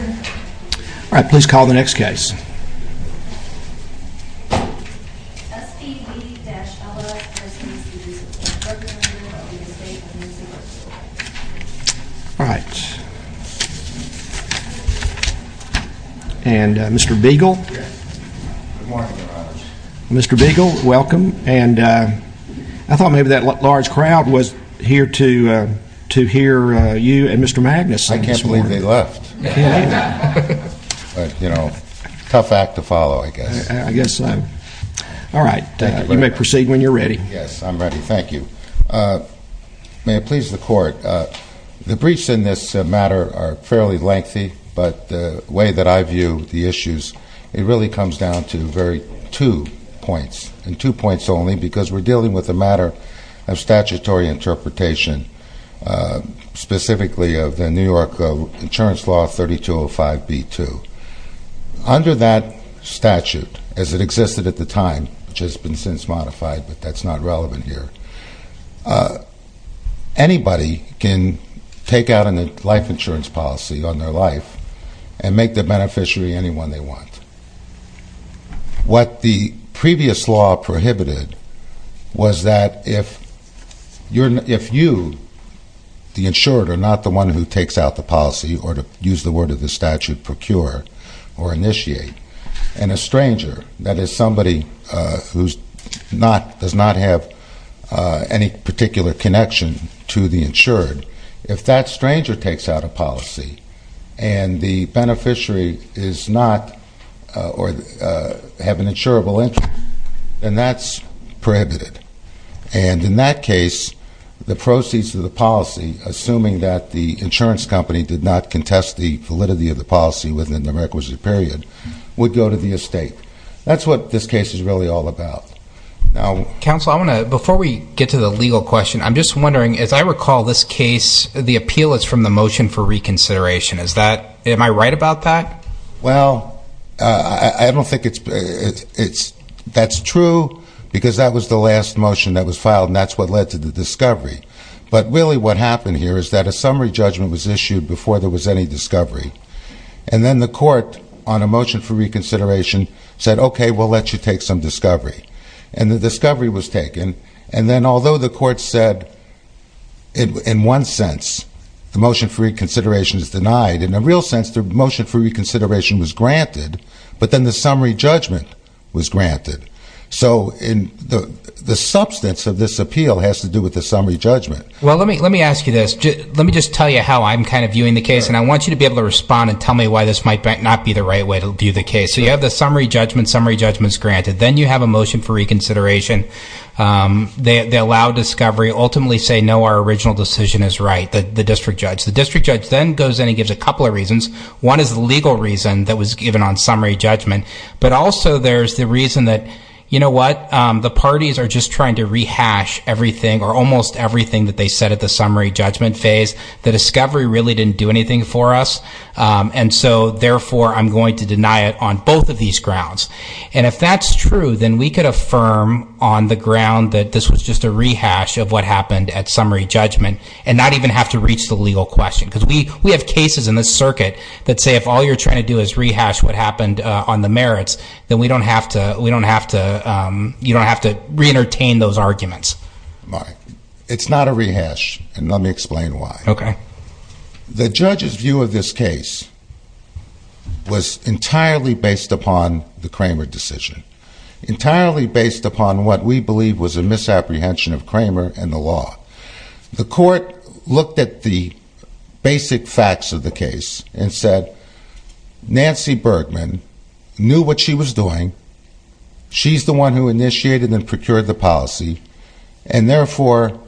Alright, please call the next case. SVV-LS, LLC v. The Estate of Nancy Bergman Alright. And Mr. Beagle. Mr. Beagle, welcome. And I thought maybe that large crowd was here to hear you and Mr. Magnus. I can't believe they left. But, you know, tough act to follow, I guess. I guess so. Alright. You may proceed when you're ready. Yes, I'm ready. Thank you. May it please the Court. The briefs in this matter are fairly lengthy, but the way that I view the issues, it really comes down to two points. And two points only, because we're dealing with a matter of statutory interpretation, specifically of the New York Insurance Law 3205b-2. Under that statute, as it existed at the time, which has been since modified, but that's not relevant here, anybody can take out a life insurance policy on their life and make the beneficiary anyone they want. What the previous law prohibited was that if you, the insured, are not the one who takes out the policy, or to use the word of the statute, procure or initiate, and a stranger, that is somebody who does not have any particular connection to the insured, if that stranger takes out a policy and the beneficiary is not, or have an insurable interest, then that's prohibited. And in that case, the proceeds of the policy, assuming that the insurance company did not contest the validity of the policy within the requisite period, would go to the estate. That's what this case is really all about. Counsel, I want to, before we get to the legal question, I'm just wondering, as I recall this case, the appeal is from the motion for reconsideration. Is that, am I right about that? Well, I don't think it's, that's true, because that was the last motion that was filed, and that's what led to the discovery. But really what happened here is that a summary judgment was issued before there was any discovery. And then the court, on a motion for reconsideration, said, okay, we'll let you take some discovery. And the discovery was taken, and then although the court said, in one sense, the motion for reconsideration is denied, in a real sense, the motion for reconsideration was granted, but then the summary judgment was granted. So the substance of this appeal has to do with the summary judgment. Well, let me ask you this. Let me just tell you how I'm kind of viewing the case, and I want you to be able to respond and tell me why this might not be the right way to view the case. So you have the summary judgment, summary judgment's granted. Then you have a motion for reconsideration. They allow discovery, ultimately say, no, our original decision is right, the district judge. The district judge then goes in and gives a couple of reasons. One is the legal reason that was given on summary judgment, but also there's the reason that, you know what, the parties are just trying to rehash everything or almost everything that they said at the summary judgment phase. The discovery really didn't do anything for us, and so, therefore, I'm going to deny it on both of these grounds. And if that's true, then we could affirm on the ground that this was just a rehash of what happened at summary judgment and not even have to reach the legal question because we have cases in this circuit that say, if all you're trying to do is rehash what happened on the merits, then we don't have to, we don't have to, you don't have to re-entertain those arguments. It's not a rehash, and let me explain why. Okay. The judge's view of this case was entirely based upon the Kramer decision, entirely based upon what we believe was a misapprehension of Kramer and the law. The court looked at the basic facts of the case and said, Nancy Bergman knew what she was doing, she's the one who initiated and procured the policy, and, therefore,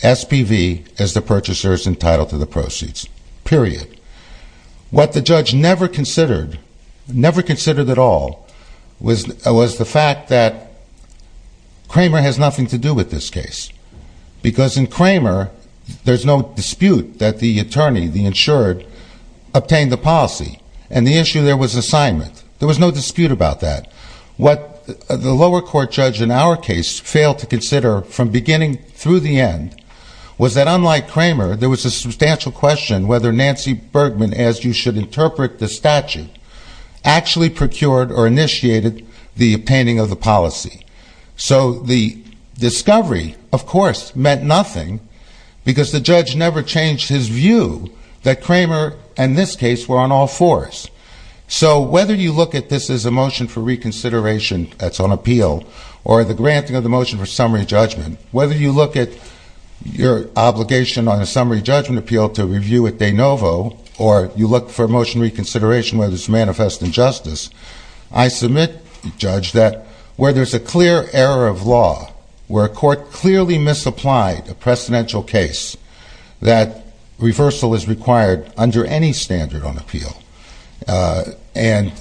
SPV is the purchaser's entitled to the proceeds, period. What the judge never considered, never considered at all, was the fact that Kramer has nothing to do with this case because in Kramer, there's no dispute that the attorney, the insured, obtained the policy, and the issue there was assignment. There was no dispute about that. What the lower court judge in our case failed to consider from beginning through the end was that unlike Kramer, there was a substantial question whether Nancy Bergman, as you should interpret the statute, actually procured or initiated the obtaining of the policy. So the discovery, of course, meant nothing because the judge never changed his view that Kramer and this case were on all fours. So whether you look at this as a motion for reconsideration that's on appeal, or the granting of the motion for summary judgment, whether you look at your obligation on a summary judgment appeal to review at de novo, or you look for motion reconsideration whether it's manifest injustice, I submit, Judge, that where there's a clear error of law, where a court clearly misapplied a precedential case, that reversal is required under any standard on appeal. And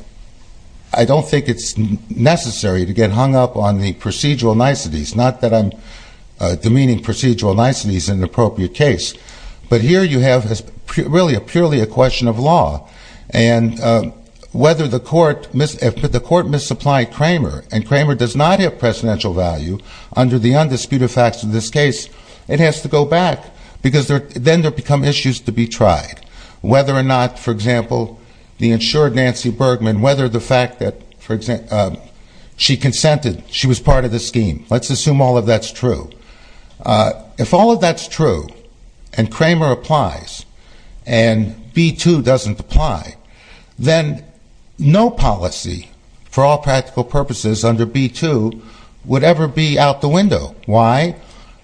I don't think it's necessary to get hung up on the procedural niceties, not that I'm demeaning procedural niceties in an appropriate case, but here you have really purely a question of law. And if the court misapplied Kramer and Kramer does not have precedential value under the undisputed facts of this case, it has to go back because then there become issues to be tried. Whether or not, for example, the insured Nancy Bergman, whether the fact that she consented, she was part of the scheme, let's assume all of that's true. If all of that's true and Kramer applies and B-2 doesn't apply, then no policy for all practical purposes under B-2 would ever be out the window. Why?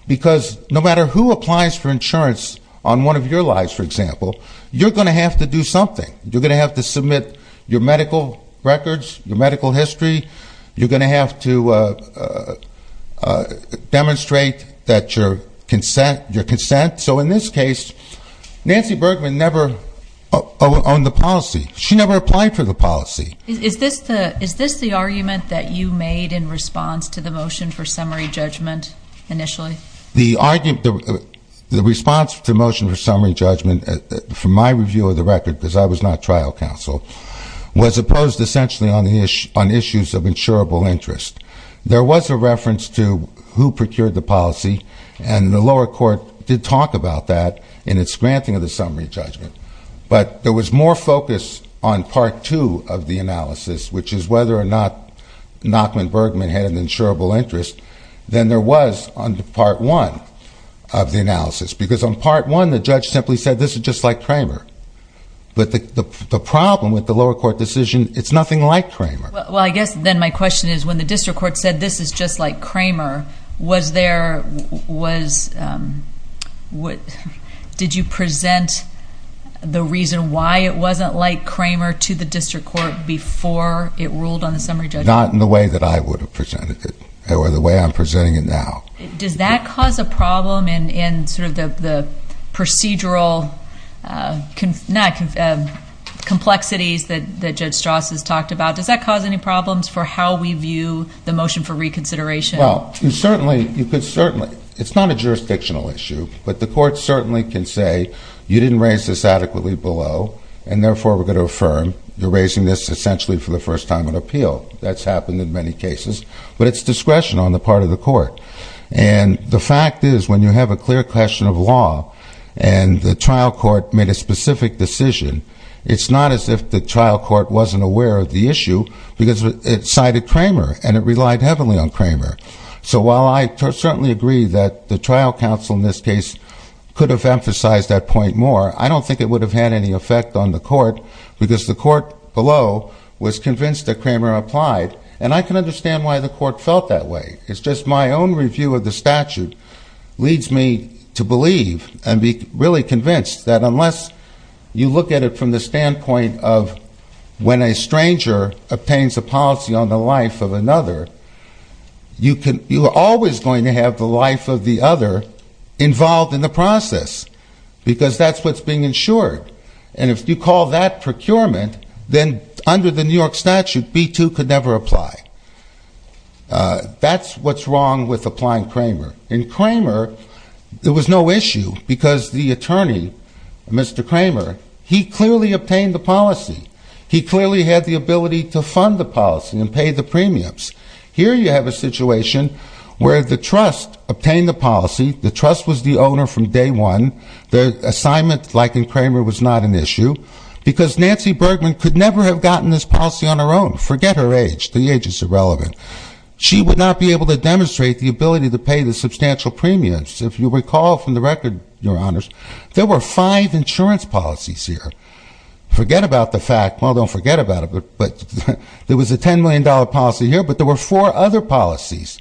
Because no matter who applies for insurance on one of your lives, for example, you're going to have to do something. You're going to have to submit your medical records, your medical history. You're going to have to demonstrate that your consent. So in this case, Nancy Bergman never owned the policy. She never applied for the policy. Is this the argument that you made in response to the motion for summary judgment initially? The response to the motion for summary judgment from my review of the record, because I was not trial counsel, was opposed essentially on issues of insurable interest. There was a reference to who procured the policy, and the lower court did talk about that in its granting of the summary judgment. But there was more focus on Part 2 of the analysis, which is whether or not Nachman Bergman had an insurable interest, than there was on Part 1 of the analysis. Because on Part 1, the judge simply said, this is just like Kramer. But the problem with the lower court decision, it's nothing like Kramer. Well, I guess then my question is, when the district court said, this is just like Kramer, did you present the reason why it wasn't like Kramer to the district court before it ruled on the summary judgment? Not in the way that I would have presented it, or the way I'm presenting it now. Does that cause a problem in sort of the procedural complexities that Judge Strauss has talked about? Does that cause any problems for how we view the motion for reconsideration? Well, it's not a jurisdictional issue, but the court certainly can say, you didn't raise this adequately below, and therefore we're going to affirm, you're raising this essentially for the first time in appeal. That's happened in many cases. But it's discretion on the part of the court. And the fact is, when you have a clear question of law, and the trial court made a specific decision, it's not as if the trial court wasn't aware of the issue, because it cited Kramer, and it relied heavily on Kramer. So while I certainly agree that the trial counsel in this case could have emphasized that point more, I don't think it would have had any effect on the court, because the court below was convinced that Kramer applied. And I can understand why the court felt that way. It's just my own review of the statute leads me to believe, and be really convinced, that unless you look at it from the standpoint of when a stranger obtains a policy on the life of another, you are always going to have the life of the other involved in the process, because that's what's being insured. And if you call that procurement, then under the New York statute, B-2 could never apply. That's what's wrong with applying Kramer. In Kramer, there was no issue, because the attorney, Mr. Kramer, he clearly obtained the policy. He clearly had the ability to fund the policy and pay the premiums. Here you have a situation where the trust obtained the policy. The trust was the owner from day one. The assignment, like in Kramer, was not an issue, because Nancy Bergman could never have gotten this policy on her own. Forget her age. The age is irrelevant. She would not be able to demonstrate the ability to pay the substantial premiums. If you recall from the record, Your Honors, there were five insurance policies here. Forget about the fact, well, don't forget about it, but there was a $10 million policy here, but there were four other policies.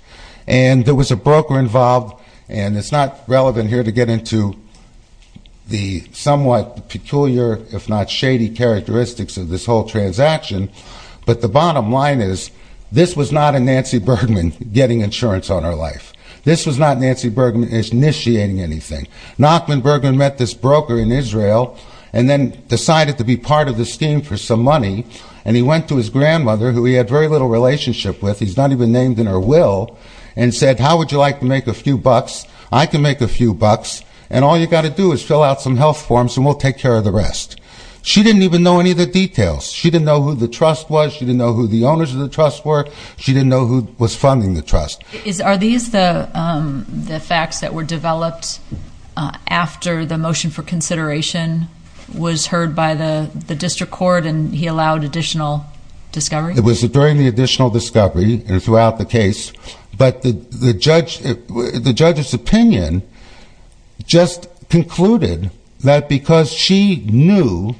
And there was a broker involved, and it's not relevant here to get into the somewhat peculiar, if not shady, characteristics of this whole transaction, but the bottom line is this was not a Nancy Bergman getting insurance on her life. This was not Nancy Bergman initiating anything. Nachman Bergman met this broker in Israel and then decided to be part of the scheme for some money, and he went to his grandmother, who he had very little relationship with. He's not even named in her will, and said, how would you like to make a few bucks? I can make a few bucks, and all you've got to do is fill out some health forms and we'll take care of the rest. She didn't even know any of the details. She didn't know who the trust was. She didn't know who the owners of the trust were. She didn't know who was funding the trust. Are these the facts that were developed after the motion for consideration was heard by the district court and he allowed additional discovery? It was during the additional discovery and throughout the case, but the judge's opinion just concluded that because she knew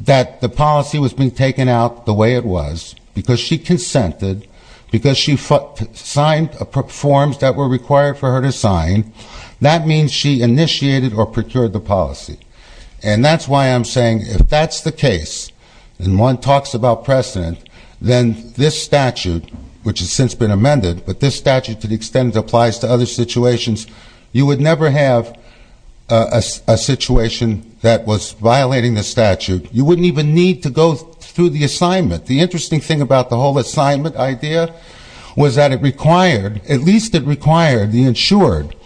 that the policy was being taken out the way it was, because she consented, because she signed forms that were required for her to sign, that means she initiated or procured the policy. And that's why I'm saying if that's the case, and one talks about precedent, then this statute, which has since been amended, but this statute to the extent it applies to other situations, you would never have a situation that was violating the statute. You wouldn't even need to go through the assignment. The interesting thing about the whole assignment idea was that it required, at least it required, the insured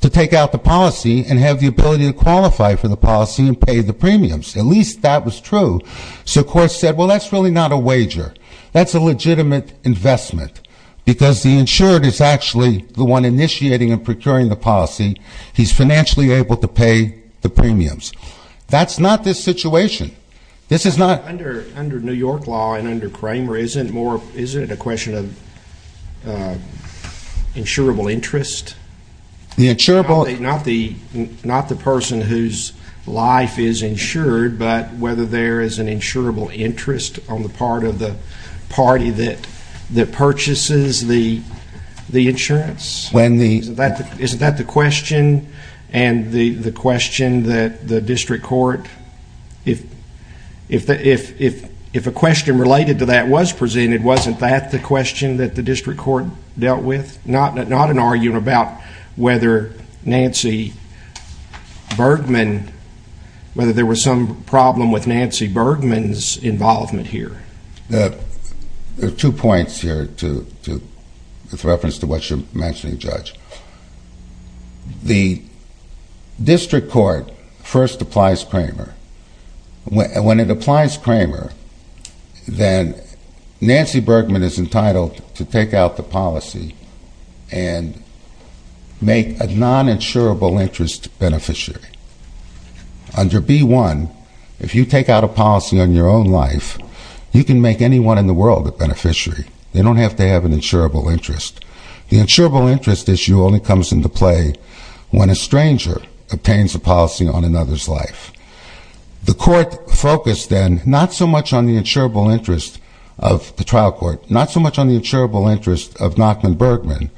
to take out the policy and have the ability to qualify for the policy and pay the premiums. At least that was true. So the court said, well, that's really not a wager. That's a legitimate investment because the insured is actually the one initiating and procuring the policy. He's financially able to pay the premiums. That's not this situation. This is not- Under New York law and under Cramer, isn't it a question of insurable interest? The insurable- Not the person whose life is insured, but whether there is an insurable interest on the part of the party that purchases the insurance. Isn't that the question and the question that the district court, if a question related to that was presented, wasn't that the question that the district court dealt with? Not an argument about whether Nancy Bergman, whether there was some problem with Nancy Bergman's involvement here. There are two points here with reference to what you're mentioning, Judge. The district court first applies Cramer. When it applies Cramer, then Nancy Bergman is entitled to take out the policy and make a non-insurable interest beneficiary. Under B-1, if you take out a policy on your own life, you can make anyone in the world a beneficiary. They don't have to have an insurable interest. The insurable interest issue only comes into play when a stranger obtains a policy on another's life. The court focused then not so much on the insurable interest of the trial court, not so much on the insurable interest of Nachman Bergman,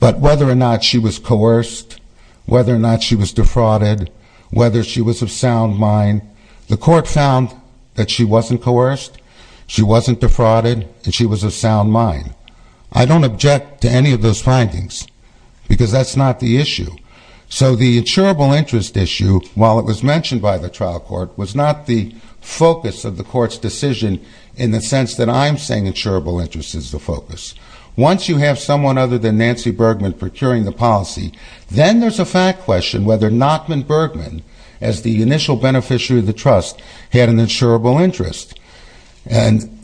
but whether or not she was coerced, whether or not she was defrauded, whether she was of sound mind. The court found that she wasn't coerced, she wasn't defrauded, and she was of sound mind. I don't object to any of those findings because that's not the issue. So the insurable interest issue, while it was mentioned by the trial court, was not the focus of the court's decision in the sense that I'm saying insurable interest is the focus. Once you have someone other than Nancy Bergman procuring the policy, then there's a fact question whether Nachman Bergman, as the initial beneficiary of the trust, had an insurable interest. And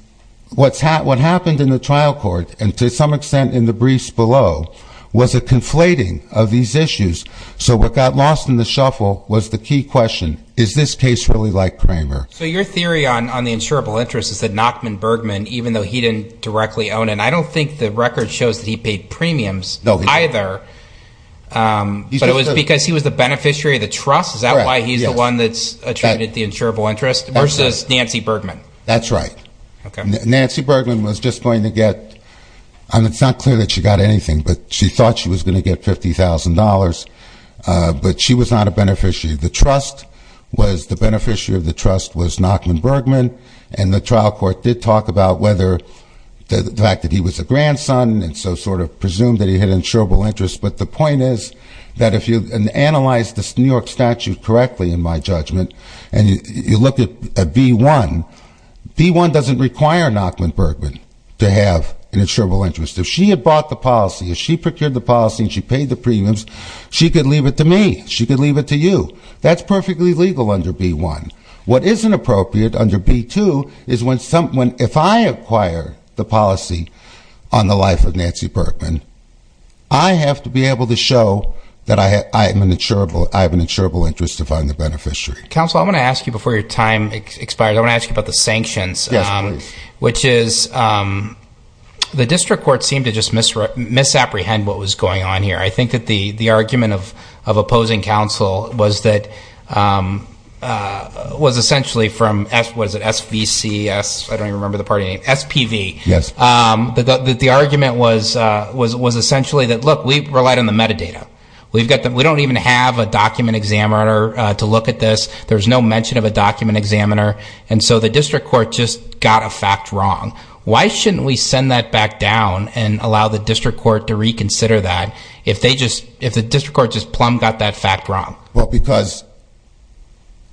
what happened in the trial court, and to some extent in the briefs below, was a conflating of these issues. So what got lost in the shuffle was the key question, is this case really like Kramer? So your theory on the insurable interest is that Nachman Bergman, even though he didn't directly own it, and I don't think the record shows that he paid premiums either, but it was because he was the beneficiary of the trust? Is that why he's the one that's attributed the insurable interest versus Nancy Bergman? That's right. Nancy Bergman was just going to get, and it's not clear that she got anything, but she thought she was going to get $50,000, but she was not a beneficiary. The beneficiary of the trust was Nachman Bergman, and the trial court did talk about whether the fact that he was a grandson and so sort of presumed that he had an insurable interest. But the point is that if you analyze the New York statute correctly, in my judgment, and you look at B-1, B-1 doesn't require Nachman Bergman to have an insurable interest. If she had bought the policy, if she procured the policy and she paid the premiums, she could leave it to me, she could leave it to you. That's perfectly legal under B-1. What isn't appropriate under B-2 is if I acquire the policy on the life of Nancy Bergman, I have to be able to show that I have an insurable interest if I'm the beneficiary. Counsel, I want to ask you before your time expires, I want to ask you about the sanctions. Yes, please. Which is the district court seemed to just misapprehend what was going on here. I think that the argument of opposing counsel was that, was essentially from, was it SVC, I don't even remember the party name, SPV. Yes. The argument was essentially that, look, we relied on the metadata. We don't even have a document examiner to look at this. There's no mention of a document examiner. And so the district court just got a fact wrong. Why shouldn't we send that back down and allow the district court to reconsider that if they just, if the district court just plumb got that fact wrong? Well, because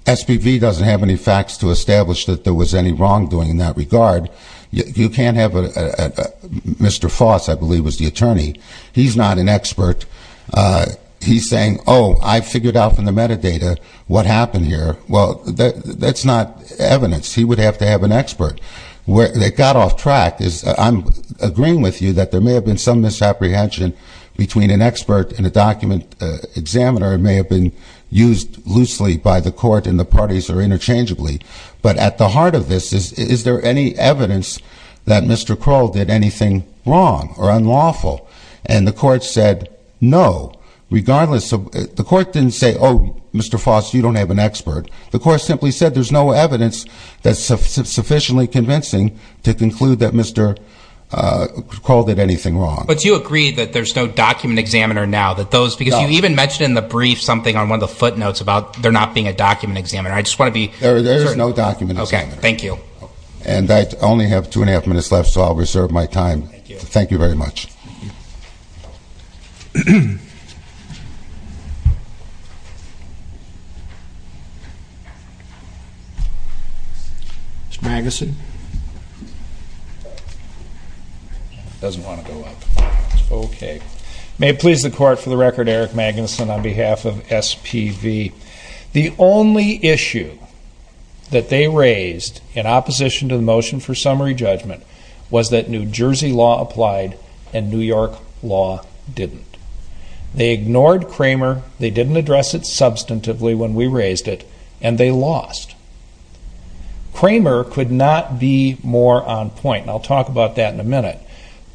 SPV doesn't have any facts to establish that there was any wrongdoing in that regard. You can't have a, Mr. Foss, I believe, was the attorney. He's not an expert. He's saying, oh, I figured out from the metadata what happened here. Well, that's not evidence. He would have to have an expert. They got off track. I'm agreeing with you that there may have been some misapprehension between an expert and a document examiner. It may have been used loosely by the court and the parties or interchangeably. But at the heart of this, is there any evidence that Mr. Kroll did anything wrong or unlawful? And the court said no, regardless of, the court didn't say, oh, Mr. Foss, you don't have an expert. The court simply said there's no evidence that's sufficiently convincing to conclude that Mr. Kroll did anything wrong. But you agree that there's no document examiner now? No. Because you even mentioned in the brief something on one of the footnotes about there not being a document examiner. I just want to be certain. There is no document examiner. Okay, thank you. And I only have two and a half minutes left, so I'll reserve my time. Thank you. Thank you very much. Mr. Magnuson? He doesn't want to go up. Okay. May it please the court, for the record, Eric Magnuson on behalf of SPV. The only issue that they raised in opposition to the motion for summary judgment was that New Jersey law applied and New York law didn't. They ignored Cramer, they didn't address it substantively when we raised it, and they lost. Cramer could not be more on point, and I'll talk about that in a minute.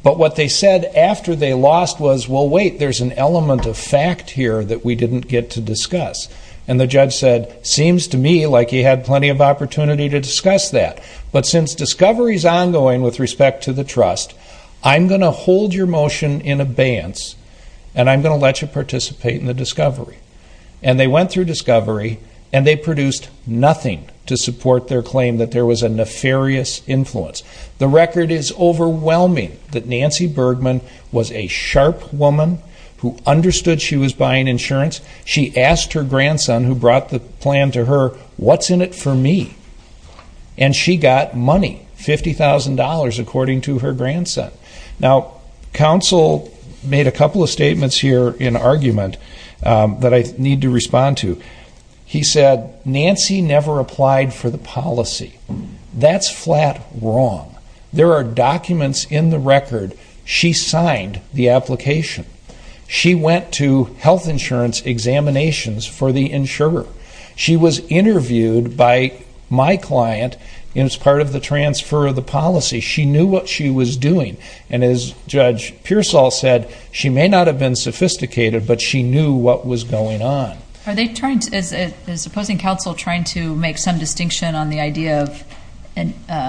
But what they said after they lost was, well, wait, there's an element of fact here that we didn't get to discuss. And the judge said, seems to me like he had plenty of opportunity to discuss that. But since discovery is ongoing with respect to the trust, I'm going to hold your motion in abeyance, and I'm going to let you participate in the discovery. And they went through discovery, and they produced nothing to support their claim that there was a nefarious influence. The record is overwhelming that Nancy Bergman was a sharp woman who understood she was buying insurance. She asked her grandson, who brought the plan to her, what's in it for me? And she got money, $50,000, according to her grandson. Now, counsel made a couple of statements here in argument that I need to respond to. He said, Nancy never applied for the policy. That's flat wrong. There are documents in the record. She signed the application. She went to health insurance examinations for the insurer. She was interviewed by my client as part of the transfer of the policy. She knew what she was doing. And as Judge Pearsall said, she may not have been sophisticated, but she knew what was going on. Are they trying to, is opposing counsel trying to make some distinction on the idea of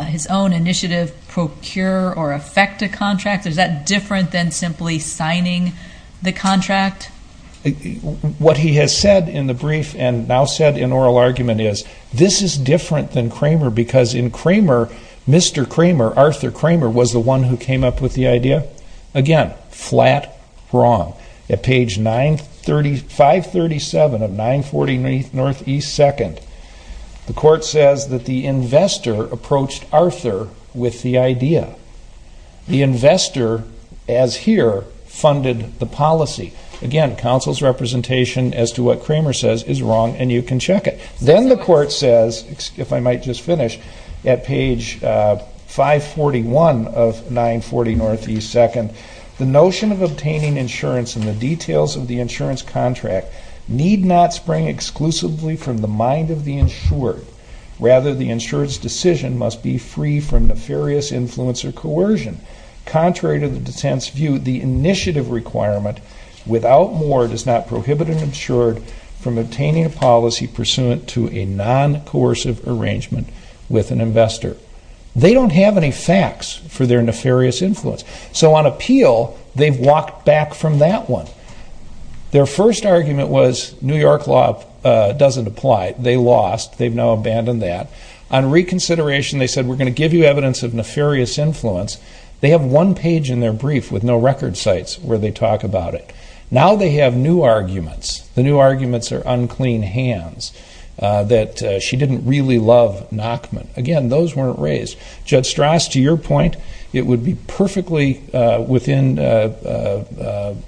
his own initiative, procure or effect a contract? Is that different than simply signing the contract? What he has said in the brief and now said in oral argument is, this is different than Cramer because in Cramer, Mr. Cramer, Arthur Cramer, was the one who came up with the idea. Again, flat wrong. At page 537 of 940 NE 2nd, the court says that the investor approached Arthur with the idea. The investor, as here, funded the policy. Again, counsel's representation as to what Cramer says is wrong, and you can check it. Then the court says, if I might just finish, at page 541 of 940 NE 2nd, the notion of obtaining insurance and the details of the insurance contract need not spring exclusively from the mind of the insured. Rather, the insured's decision must be free from nefarious influence or coercion. Contrary to the dissent's view, the initiative requirement, without more, does not prohibit an insured from obtaining a policy pursuant to a non-coercive arrangement with an investor. They don't have any facts for their nefarious influence. So on appeal, they've walked back from that one. Their first argument was New York law doesn't apply. They lost. They've now abandoned that. On reconsideration, they said, we're going to give you evidence of nefarious influence. They have one page in their brief with no record sites where they talk about it. Now they have new arguments. The new arguments are unclean hands, that she didn't really love Nachman. Again, those weren't raised. Judge Strauss, to your point, it would be perfectly within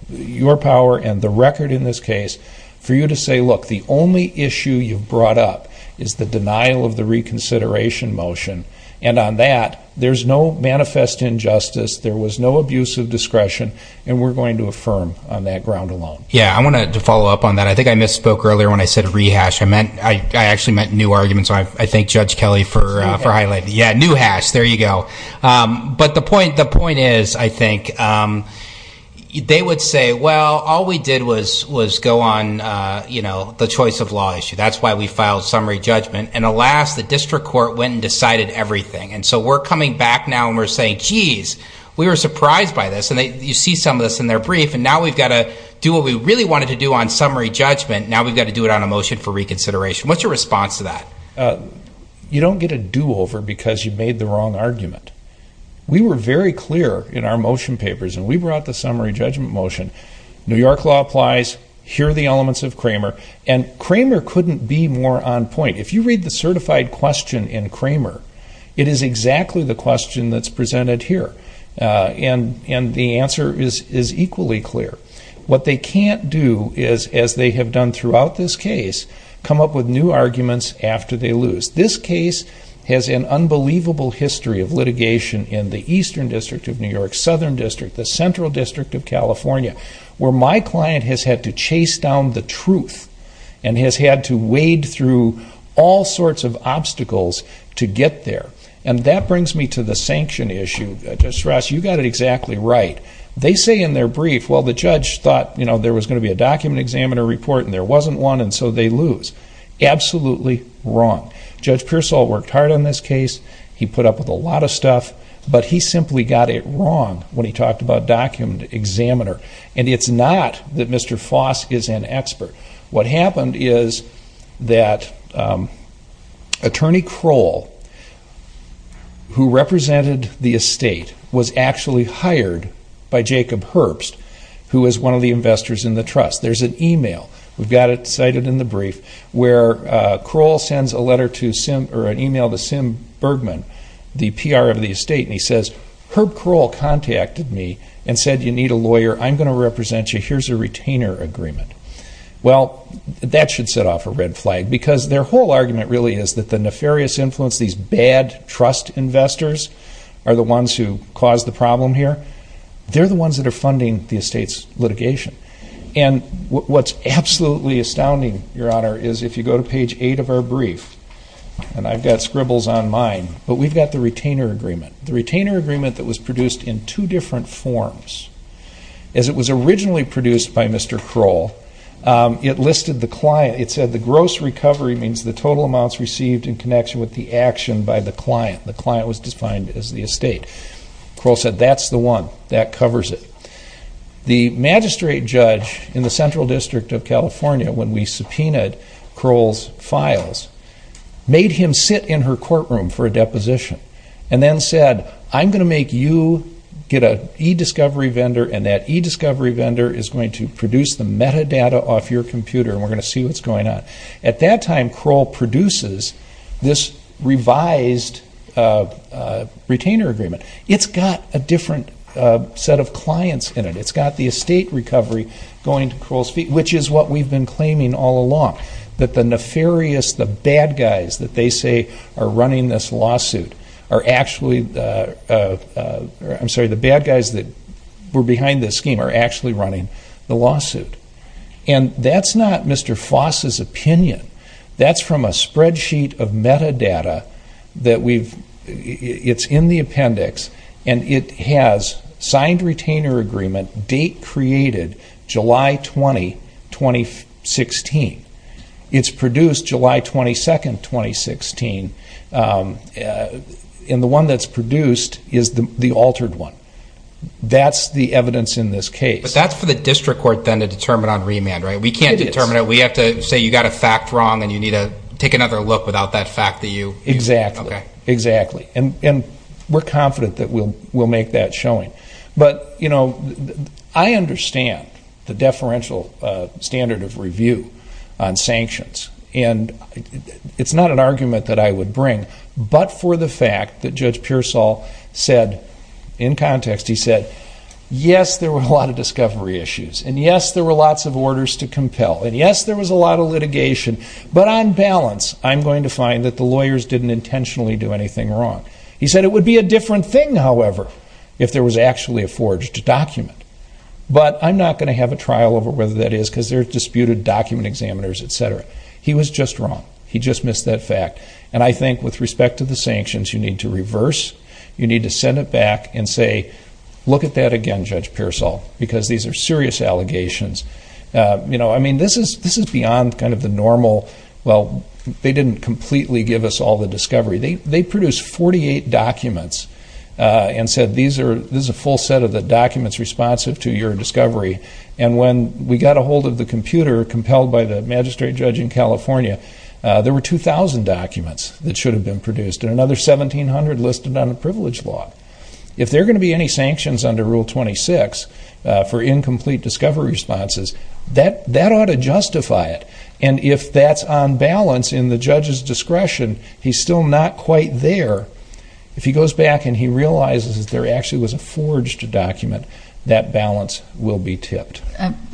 your power and the record in this case for you to say, look, the only issue you've brought up is the denial of the reconsideration motion. And on that, there's no manifest injustice. There was no abuse of discretion. And we're going to affirm on that ground alone. Yeah, I want to follow up on that. I think I misspoke earlier when I said rehash. I actually meant new arguments. I thank Judge Kelly for highlighting. Yeah, new hash. There you go. But the point is, I think, they would say, well, all we did was go on the choice of law issue. That's why we filed summary judgment. And alas, the district court went and decided everything. And so we're coming back now and we're saying, geez, we were surprised by this. And you see some of this in their brief. And now we've got to do what we really wanted to do on summary judgment. Now we've got to do it on a motion for reconsideration. What's your response to that? You don't get a do-over because you made the wrong argument. We were very clear in our motion papers, and we brought the summary judgment motion. New York law applies. Here are the elements of Cramer. And Cramer couldn't be more on point. If you read the certified question in Cramer, it is exactly the question that's presented here. And the answer is equally clear. What they can't do is, as they have done throughout this case, come up with new arguments after they lose. This case has an unbelievable history of litigation in the Eastern District of New York, Southern District, the Central District of California, where my client has had to chase down the truth and has had to wade through all sorts of obstacles to get there. And that brings me to the sanction issue. Judge Ross, you got it exactly right. They say in their brief, well, the judge thought there was going to be a document examiner report and there wasn't one, and so they lose. Absolutely wrong. Judge Pearsall worked hard on this case. He put up with a lot of stuff. But he simply got it wrong when he talked about document examiner. And it's not that Mr. Foss is an expert. What happened is that Attorney Kroll, who represented the estate, was actually hired by Jacob Herbst, who is one of the investors in the trust. There's an e-mail, we've got it cited in the brief, where Kroll sends an e-mail to Sim Bergman, the PR of the estate, and he says, Herb Kroll contacted me and said you need a lawyer. I'm going to represent you. Here's a retainer agreement. Well, that should set off a red flag, because their whole argument really is that the nefarious influence, these bad trust investors are the ones who caused the problem here. They're the ones that are funding the estate's litigation. And what's absolutely astounding, Your Honor, is if you go to page 8 of our brief, and I've got scribbles on mine, but we've got the retainer agreement. The retainer agreement that was produced in two different forms. As it was originally produced by Mr. Kroll, it listed the client. E-discovery means the total amounts received in connection with the action by the client. The client was defined as the estate. Kroll said that's the one, that covers it. The magistrate judge in the Central District of California, when we subpoenaed Kroll's files, made him sit in her courtroom for a deposition and then said I'm going to make you get an e-discovery vendor, and that e-discovery vendor is going to produce the metadata off your computer, and we're going to see what's going on. At that time, Kroll produces this revised retainer agreement. It's got a different set of clients in it. It's got the estate recovery going to Kroll's feet, which is what we've been claiming all along, that the nefarious, the bad guys that they say are running this lawsuit are actually, I'm sorry, the bad guys that were behind this scheme are actually running the lawsuit. And that's not Mr. Foss's opinion. That's from a spreadsheet of metadata that we've, it's in the appendix, and it has signed retainer agreement, date created July 20, 2016. It's produced July 22, 2016, and the one that's produced is the altered one. That's the evidence in this case. But that's for the district court then to determine on remand, right? It is. We can't determine it. We have to say you got a fact wrong and you need to take another look without that fact that you. Exactly. Okay. Exactly. And we're confident that we'll make that showing. But, you know, I understand the deferential standard of review on sanctions, and it's not an argument that I would bring, but for the fact that Judge Pearsall said in context, he said, yes, there were a lot of discovery issues, and yes, there were lots of orders to compel, and yes, there was a lot of litigation, but on balance I'm going to find that the lawyers didn't intentionally do anything wrong. He said it would be a different thing, however, if there was actually a forged document. But I'm not going to have a trial over whether that is because they're disputed document examiners, et cetera. He was just wrong. He just missed that fact. And I think with respect to the sanctions, you need to reverse, you need to send it back and say, look at that again, Judge Pearsall, because these are serious allegations. You know, I mean, this is beyond kind of the normal, well, they didn't completely give us all the discovery. They produced 48 documents and said, these are a full set of the documents responsive to your discovery. And when we got a hold of the computer compelled by the magistrate judge in California, there were 2,000 documents that should have been produced and another 1,700 listed on the privilege law. If there are going to be any sanctions under Rule 26 for incomplete discovery responses, that ought to justify it. And if that's on balance in the judge's discretion, he's still not quite there. If he goes back and he realizes that there actually was a forged document, that balance will be tipped.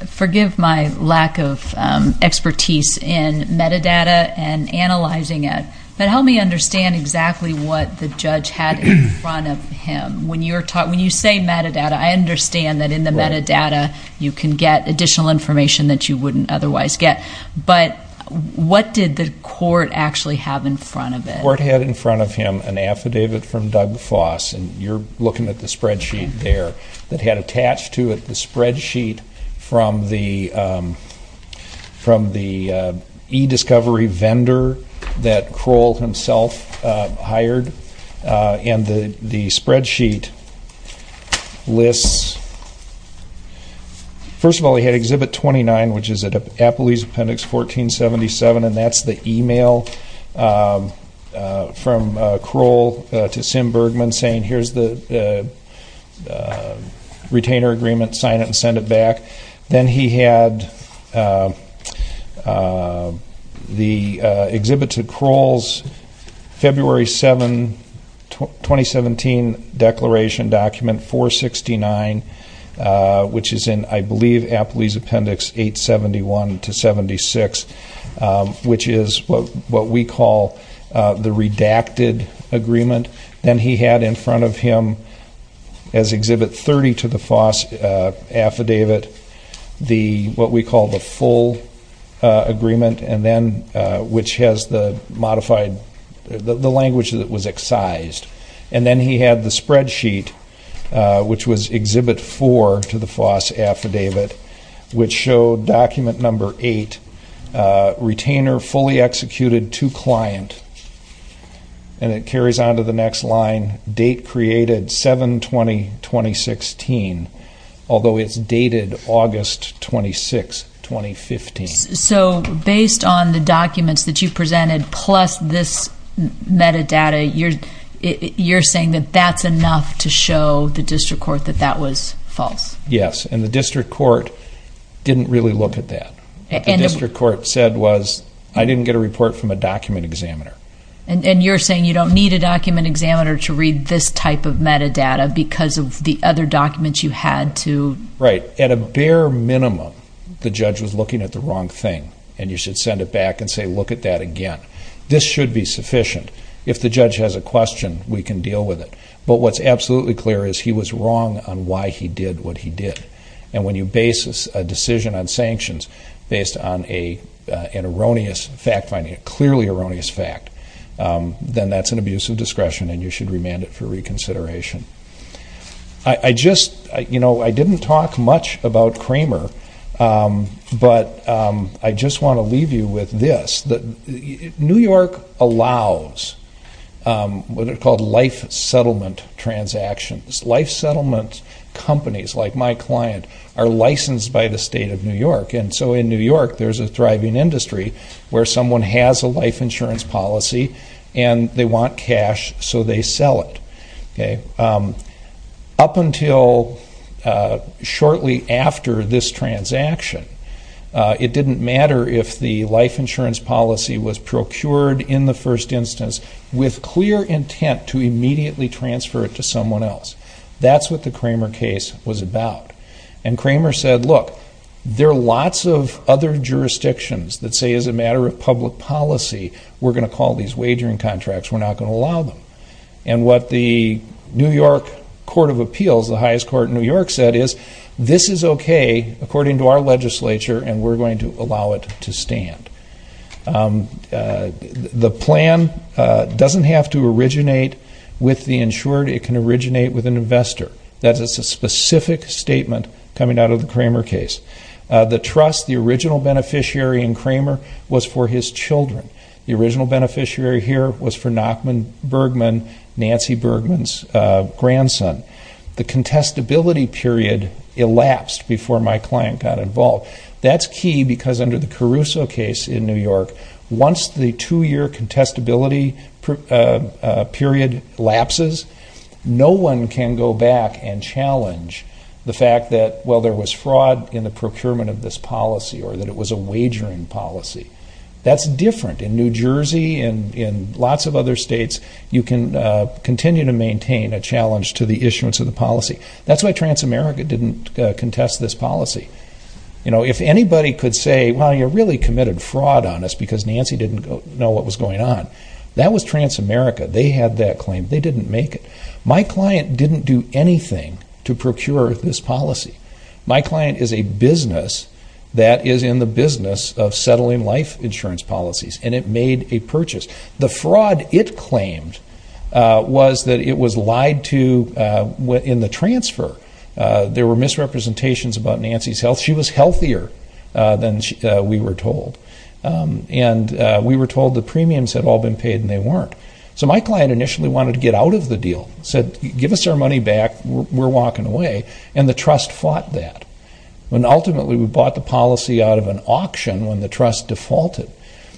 Forgive my lack of expertise in metadata and analyzing it, but help me understand exactly what the judge had in front of him. When you say metadata, I understand that in the metadata you can get additional information that you wouldn't otherwise get. But what did the court actually have in front of it? The court had in front of him an affidavit from Doug Foss, and you're looking at the spreadsheet there, that had attached to it the spreadsheet from the e-discovery vendor that Kroll himself hired. And the spreadsheet lists, first of all, he had Exhibit 29, which is at Appelie's Appendix 1477, and that's the e-mail from Kroll to Sim Bergman saying, here's the retainer agreement, sign it and send it back. Then he had the Exhibit to Kroll's February 7, 2017, Declaration Document 469, which is in, I believe, Appelie's Appendix 871-76, which is what we call the redacted agreement. Then he had in front of him, as Exhibit 30 to the Foss affidavit, what we call the full agreement, which has the language that was excised. And then he had the spreadsheet, which was Exhibit 4 to the Foss affidavit, which showed document number 8, retainer fully executed to client. And it carries on to the next line, date created 7-20-2016, although it's dated August 26, 2015. So based on the documents that you presented plus this metadata, you're saying that that's enough to show the district court that that was false? Yes, and the district court didn't really look at that. What the district court said was, I didn't get a report from a document examiner. And you're saying you don't need a document examiner to read this type of metadata because of the other documents you had to? Right. At a bare minimum, the judge was looking at the wrong thing, and you should send it back and say, look at that again. This should be sufficient. If the judge has a question, we can deal with it. But what's absolutely clear is he was wrong on why he did what he did. And when you base a decision on sanctions based on an erroneous fact finding, a clearly erroneous fact, then that's an abuse of discretion, and you should remand it for reconsideration. I didn't talk much about Kramer, but I just want to leave you with this. New York allows what are called life settlement transactions. Life settlement companies like my client are licensed by the state of New York, and so in New York there's a thriving industry where someone has a life insurance policy and they want cash so they sell it. Up until shortly after this transaction, it didn't matter if the life insurance policy was procured in the first instance with clear intent to immediately transfer it to someone else. That's what the Kramer case was about. And Kramer said, look, there are lots of other jurisdictions that say, as a matter of public policy, we're going to call these wagering contracts, we're not going to allow them. And what the New York Court of Appeals, the highest court in New York, said is, this is okay according to our legislature and we're going to allow it to stand. The plan doesn't have to originate with the insured. It can originate with an investor. That's a specific statement coming out of the Kramer case. The trust, the original beneficiary in Kramer was for his children. The original beneficiary here was for Nachman Bergman, Nancy Bergman's grandson. The contestability period elapsed before my client got involved. That's key because under the Caruso case in New York, once the two-year contestability period lapses, no one can go back and challenge the fact that, well, there was fraud in the procurement of this policy or that it was a wagering policy. That's different. In New Jersey and in lots of other states, you can continue to maintain a challenge to the issuance of the policy. That's why Transamerica didn't contest this policy. If anybody could say, well, you really committed fraud on us because Nancy didn't know what was going on, that was Transamerica. They had that claim. They didn't make it. My client didn't do anything to procure this policy. My client is a business that is in the business of settling life insurance policies, and it made a purchase. The fraud it claimed was that it was lied to in the transfer. There were misrepresentations about Nancy's health. She was healthier than we were told, and we were told the premiums had all been paid and they weren't. So my client initially wanted to get out of the deal, said, give us our money back, we're walking away, and the trust fought that. Ultimately, we bought the policy out of an auction when the trust defaulted.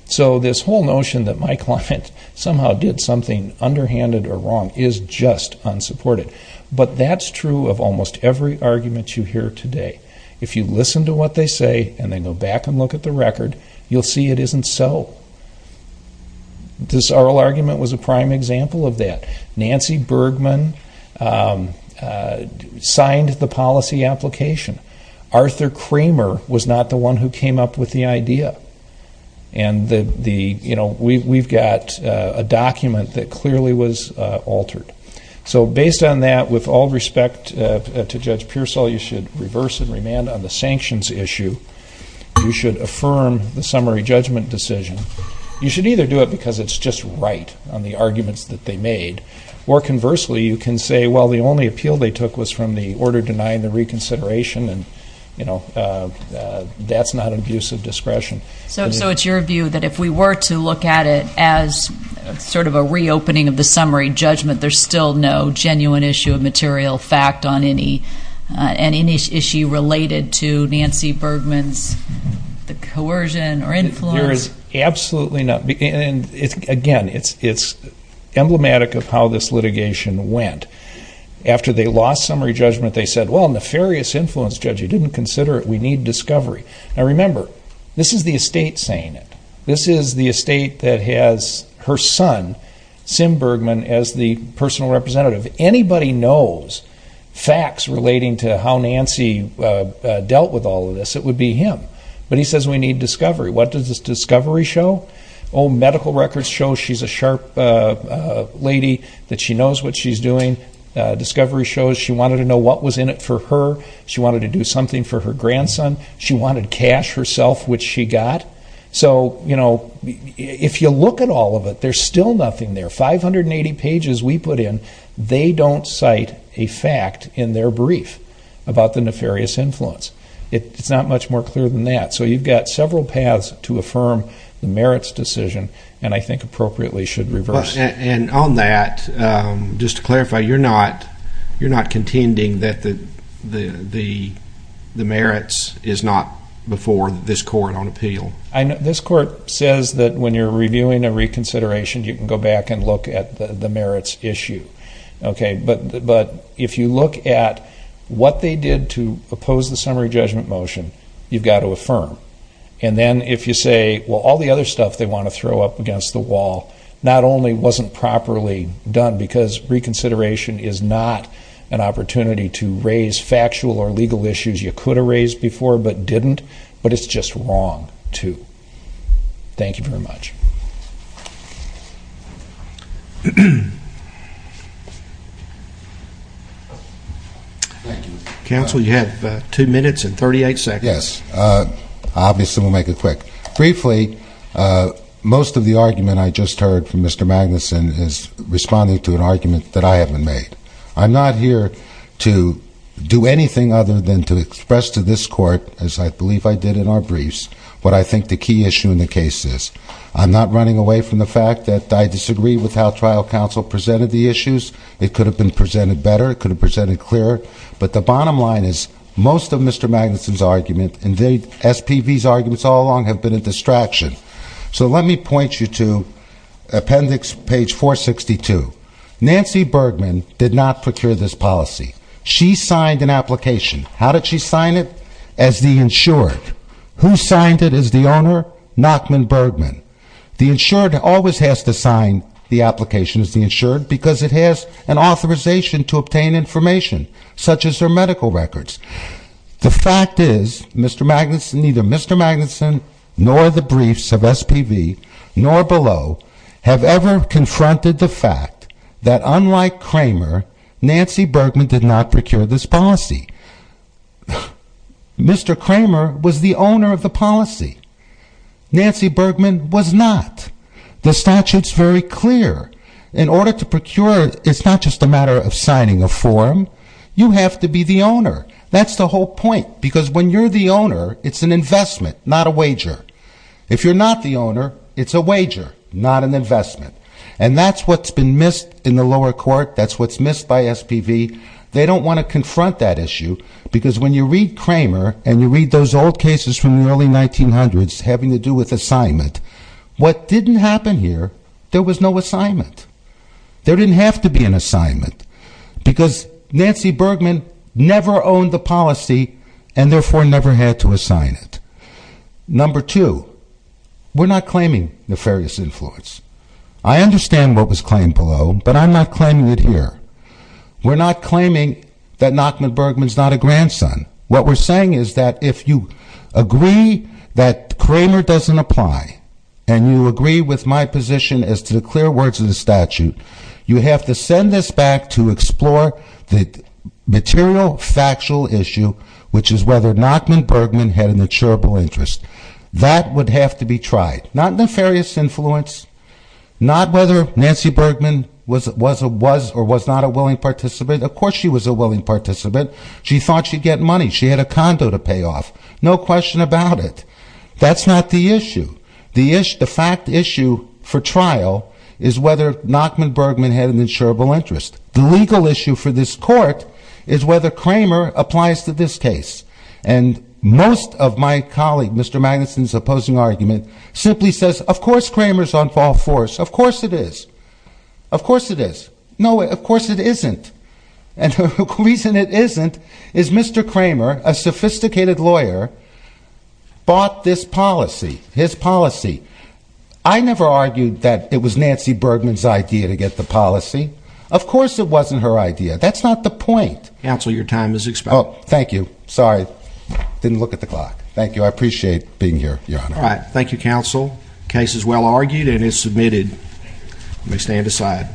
So this whole notion that my client somehow did something underhanded or wrong is just unsupported. But that's true of almost every argument you hear today. If you listen to what they say and then go back and look at the record, you'll see it isn't so. This oral argument was a prime example of that. Nancy Bergman signed the policy application. Arthur Kramer was not the one who came up with the idea. We've got a document that clearly was altered. So based on that, with all respect to Judge Pearsall, you should reverse and remand on the sanctions issue. You should affirm the summary judgment decision. You should either do it because it's just right on the arguments that they made, or conversely, you can say, well, the only appeal they took was from the order denying the reconsideration, and, you know, that's not an abuse of discretion. So it's your view that if we were to look at it as sort of a reopening of the summary judgment, there's still no genuine issue of material fact on any issue related to Nancy Bergman's coercion or influence? There is absolutely not. Again, it's emblematic of how this litigation went. After they lost summary judgment, they said, well, nefarious influence, Judge. You didn't consider it. We need discovery. Now, remember, this is the estate saying it. This is the estate that has her son, Sim Bergman, as the personal representative. Anybody knows facts relating to how Nancy dealt with all of this, it would be him. But he says we need discovery. What does this discovery show? Oh, medical records show she's a sharp lady, that she knows what she's doing. Discovery shows she wanted to know what was in it for her. She wanted to do something for her grandson. She wanted cash herself, which she got. So, you know, if you look at all of it, there's still nothing there. 580 pages we put in, they don't cite a fact in their brief about the nefarious influence. It's not much more clear than that. So you've got several paths to affirm the merits decision, and I think appropriately should reverse. And on that, just to clarify, you're not contending that the merits is not before this court on appeal? This court says that when you're reviewing a reconsideration, you can go back and look at the merits issue. But if you look at what they did to oppose the summary judgment motion, you've got to affirm. And then if you say, well, all the other stuff they want to throw up against the wall not only wasn't properly done because reconsideration is not an opportunity to raise factual or legal issues you could have raised before but didn't, but it's just wrong to. Thank you very much. Counsel, you have two minutes and 38 seconds. Yes. Obviously we'll make it quick. Briefly, most of the argument I just heard from Mr. Magnuson is responding to an argument that I haven't made. I'm not here to do anything other than to express to this court, as I believe I did in our briefs, what I think the key issue in the case is. I'm not running away from the fact that I disagree with how trial counsel presented the issues. It could have been presented better. It could have been presented clearer. But the bottom line is most of Mr. Magnuson's argument and SPV's arguments all along have been a distraction. So let me point you to appendix page 462. Nancy Bergman did not procure this policy. She signed an application. How did she sign it? As the insured. Who signed it as the owner? Nachman Bergman. The insured always has to sign the application as the insured because it has an authorization to obtain information, such as their medical records. The fact is neither Mr. Magnuson nor the briefs of SPV nor below have ever confronted the fact that unlike Kramer, Nancy Bergman did not procure this policy. Mr. Kramer was the owner of the policy. Nancy Bergman was not. The statute's very clear. In order to procure, it's not just a matter of signing a form. You have to be the owner. That's the whole point because when you're the owner, it's an investment, not a wager. If you're not the owner, it's a wager, not an investment. And that's what's been missed in the lower court. That's what's missed by SPV. They don't want to confront that issue because when you read Kramer and you read those old cases from the early 1900s having to do with assignment, what didn't happen here, there was no assignment. There didn't have to be an assignment because Nancy Bergman never owned the policy and therefore never had to assign it. Number two, we're not claiming nefarious influence. I understand what was claimed below, but I'm not claiming it here. We're not claiming that Nachman Bergman's not a grandson. What we're saying is that if you agree that Kramer doesn't apply and you agree with my position as to the clear words of the statute, you have to send this back to explore the material factual issue, which is whether Nachman Bergman had an insurable interest. That would have to be tried. Not nefarious influence, not whether Nancy Bergman was or was not a willing participant. Of course she was a willing participant. She thought she'd get money. She had a condo to pay off. No question about it. That's not the issue. The fact issue for trial is whether Nachman Bergman had an insurable interest. The legal issue for this court is whether Kramer applies to this case. And most of my colleague, Mr. Magnuson's opposing argument, simply says, of course Kramer's on false force. Of course it is. Of course it is. No, of course it isn't. And the reason it isn't is Mr. Kramer, a sophisticated lawyer, bought this policy. His policy. I never argued that it was Nancy Bergman's idea to get the policy. Of course it wasn't her idea. That's not the point. Counsel, your time is expired. Oh, thank you. Sorry. Didn't look at the clock. Thank you. I appreciate being here, Your Honor. All right. Thank you, Counsel. The case is well argued and is submitted. You may stand aside.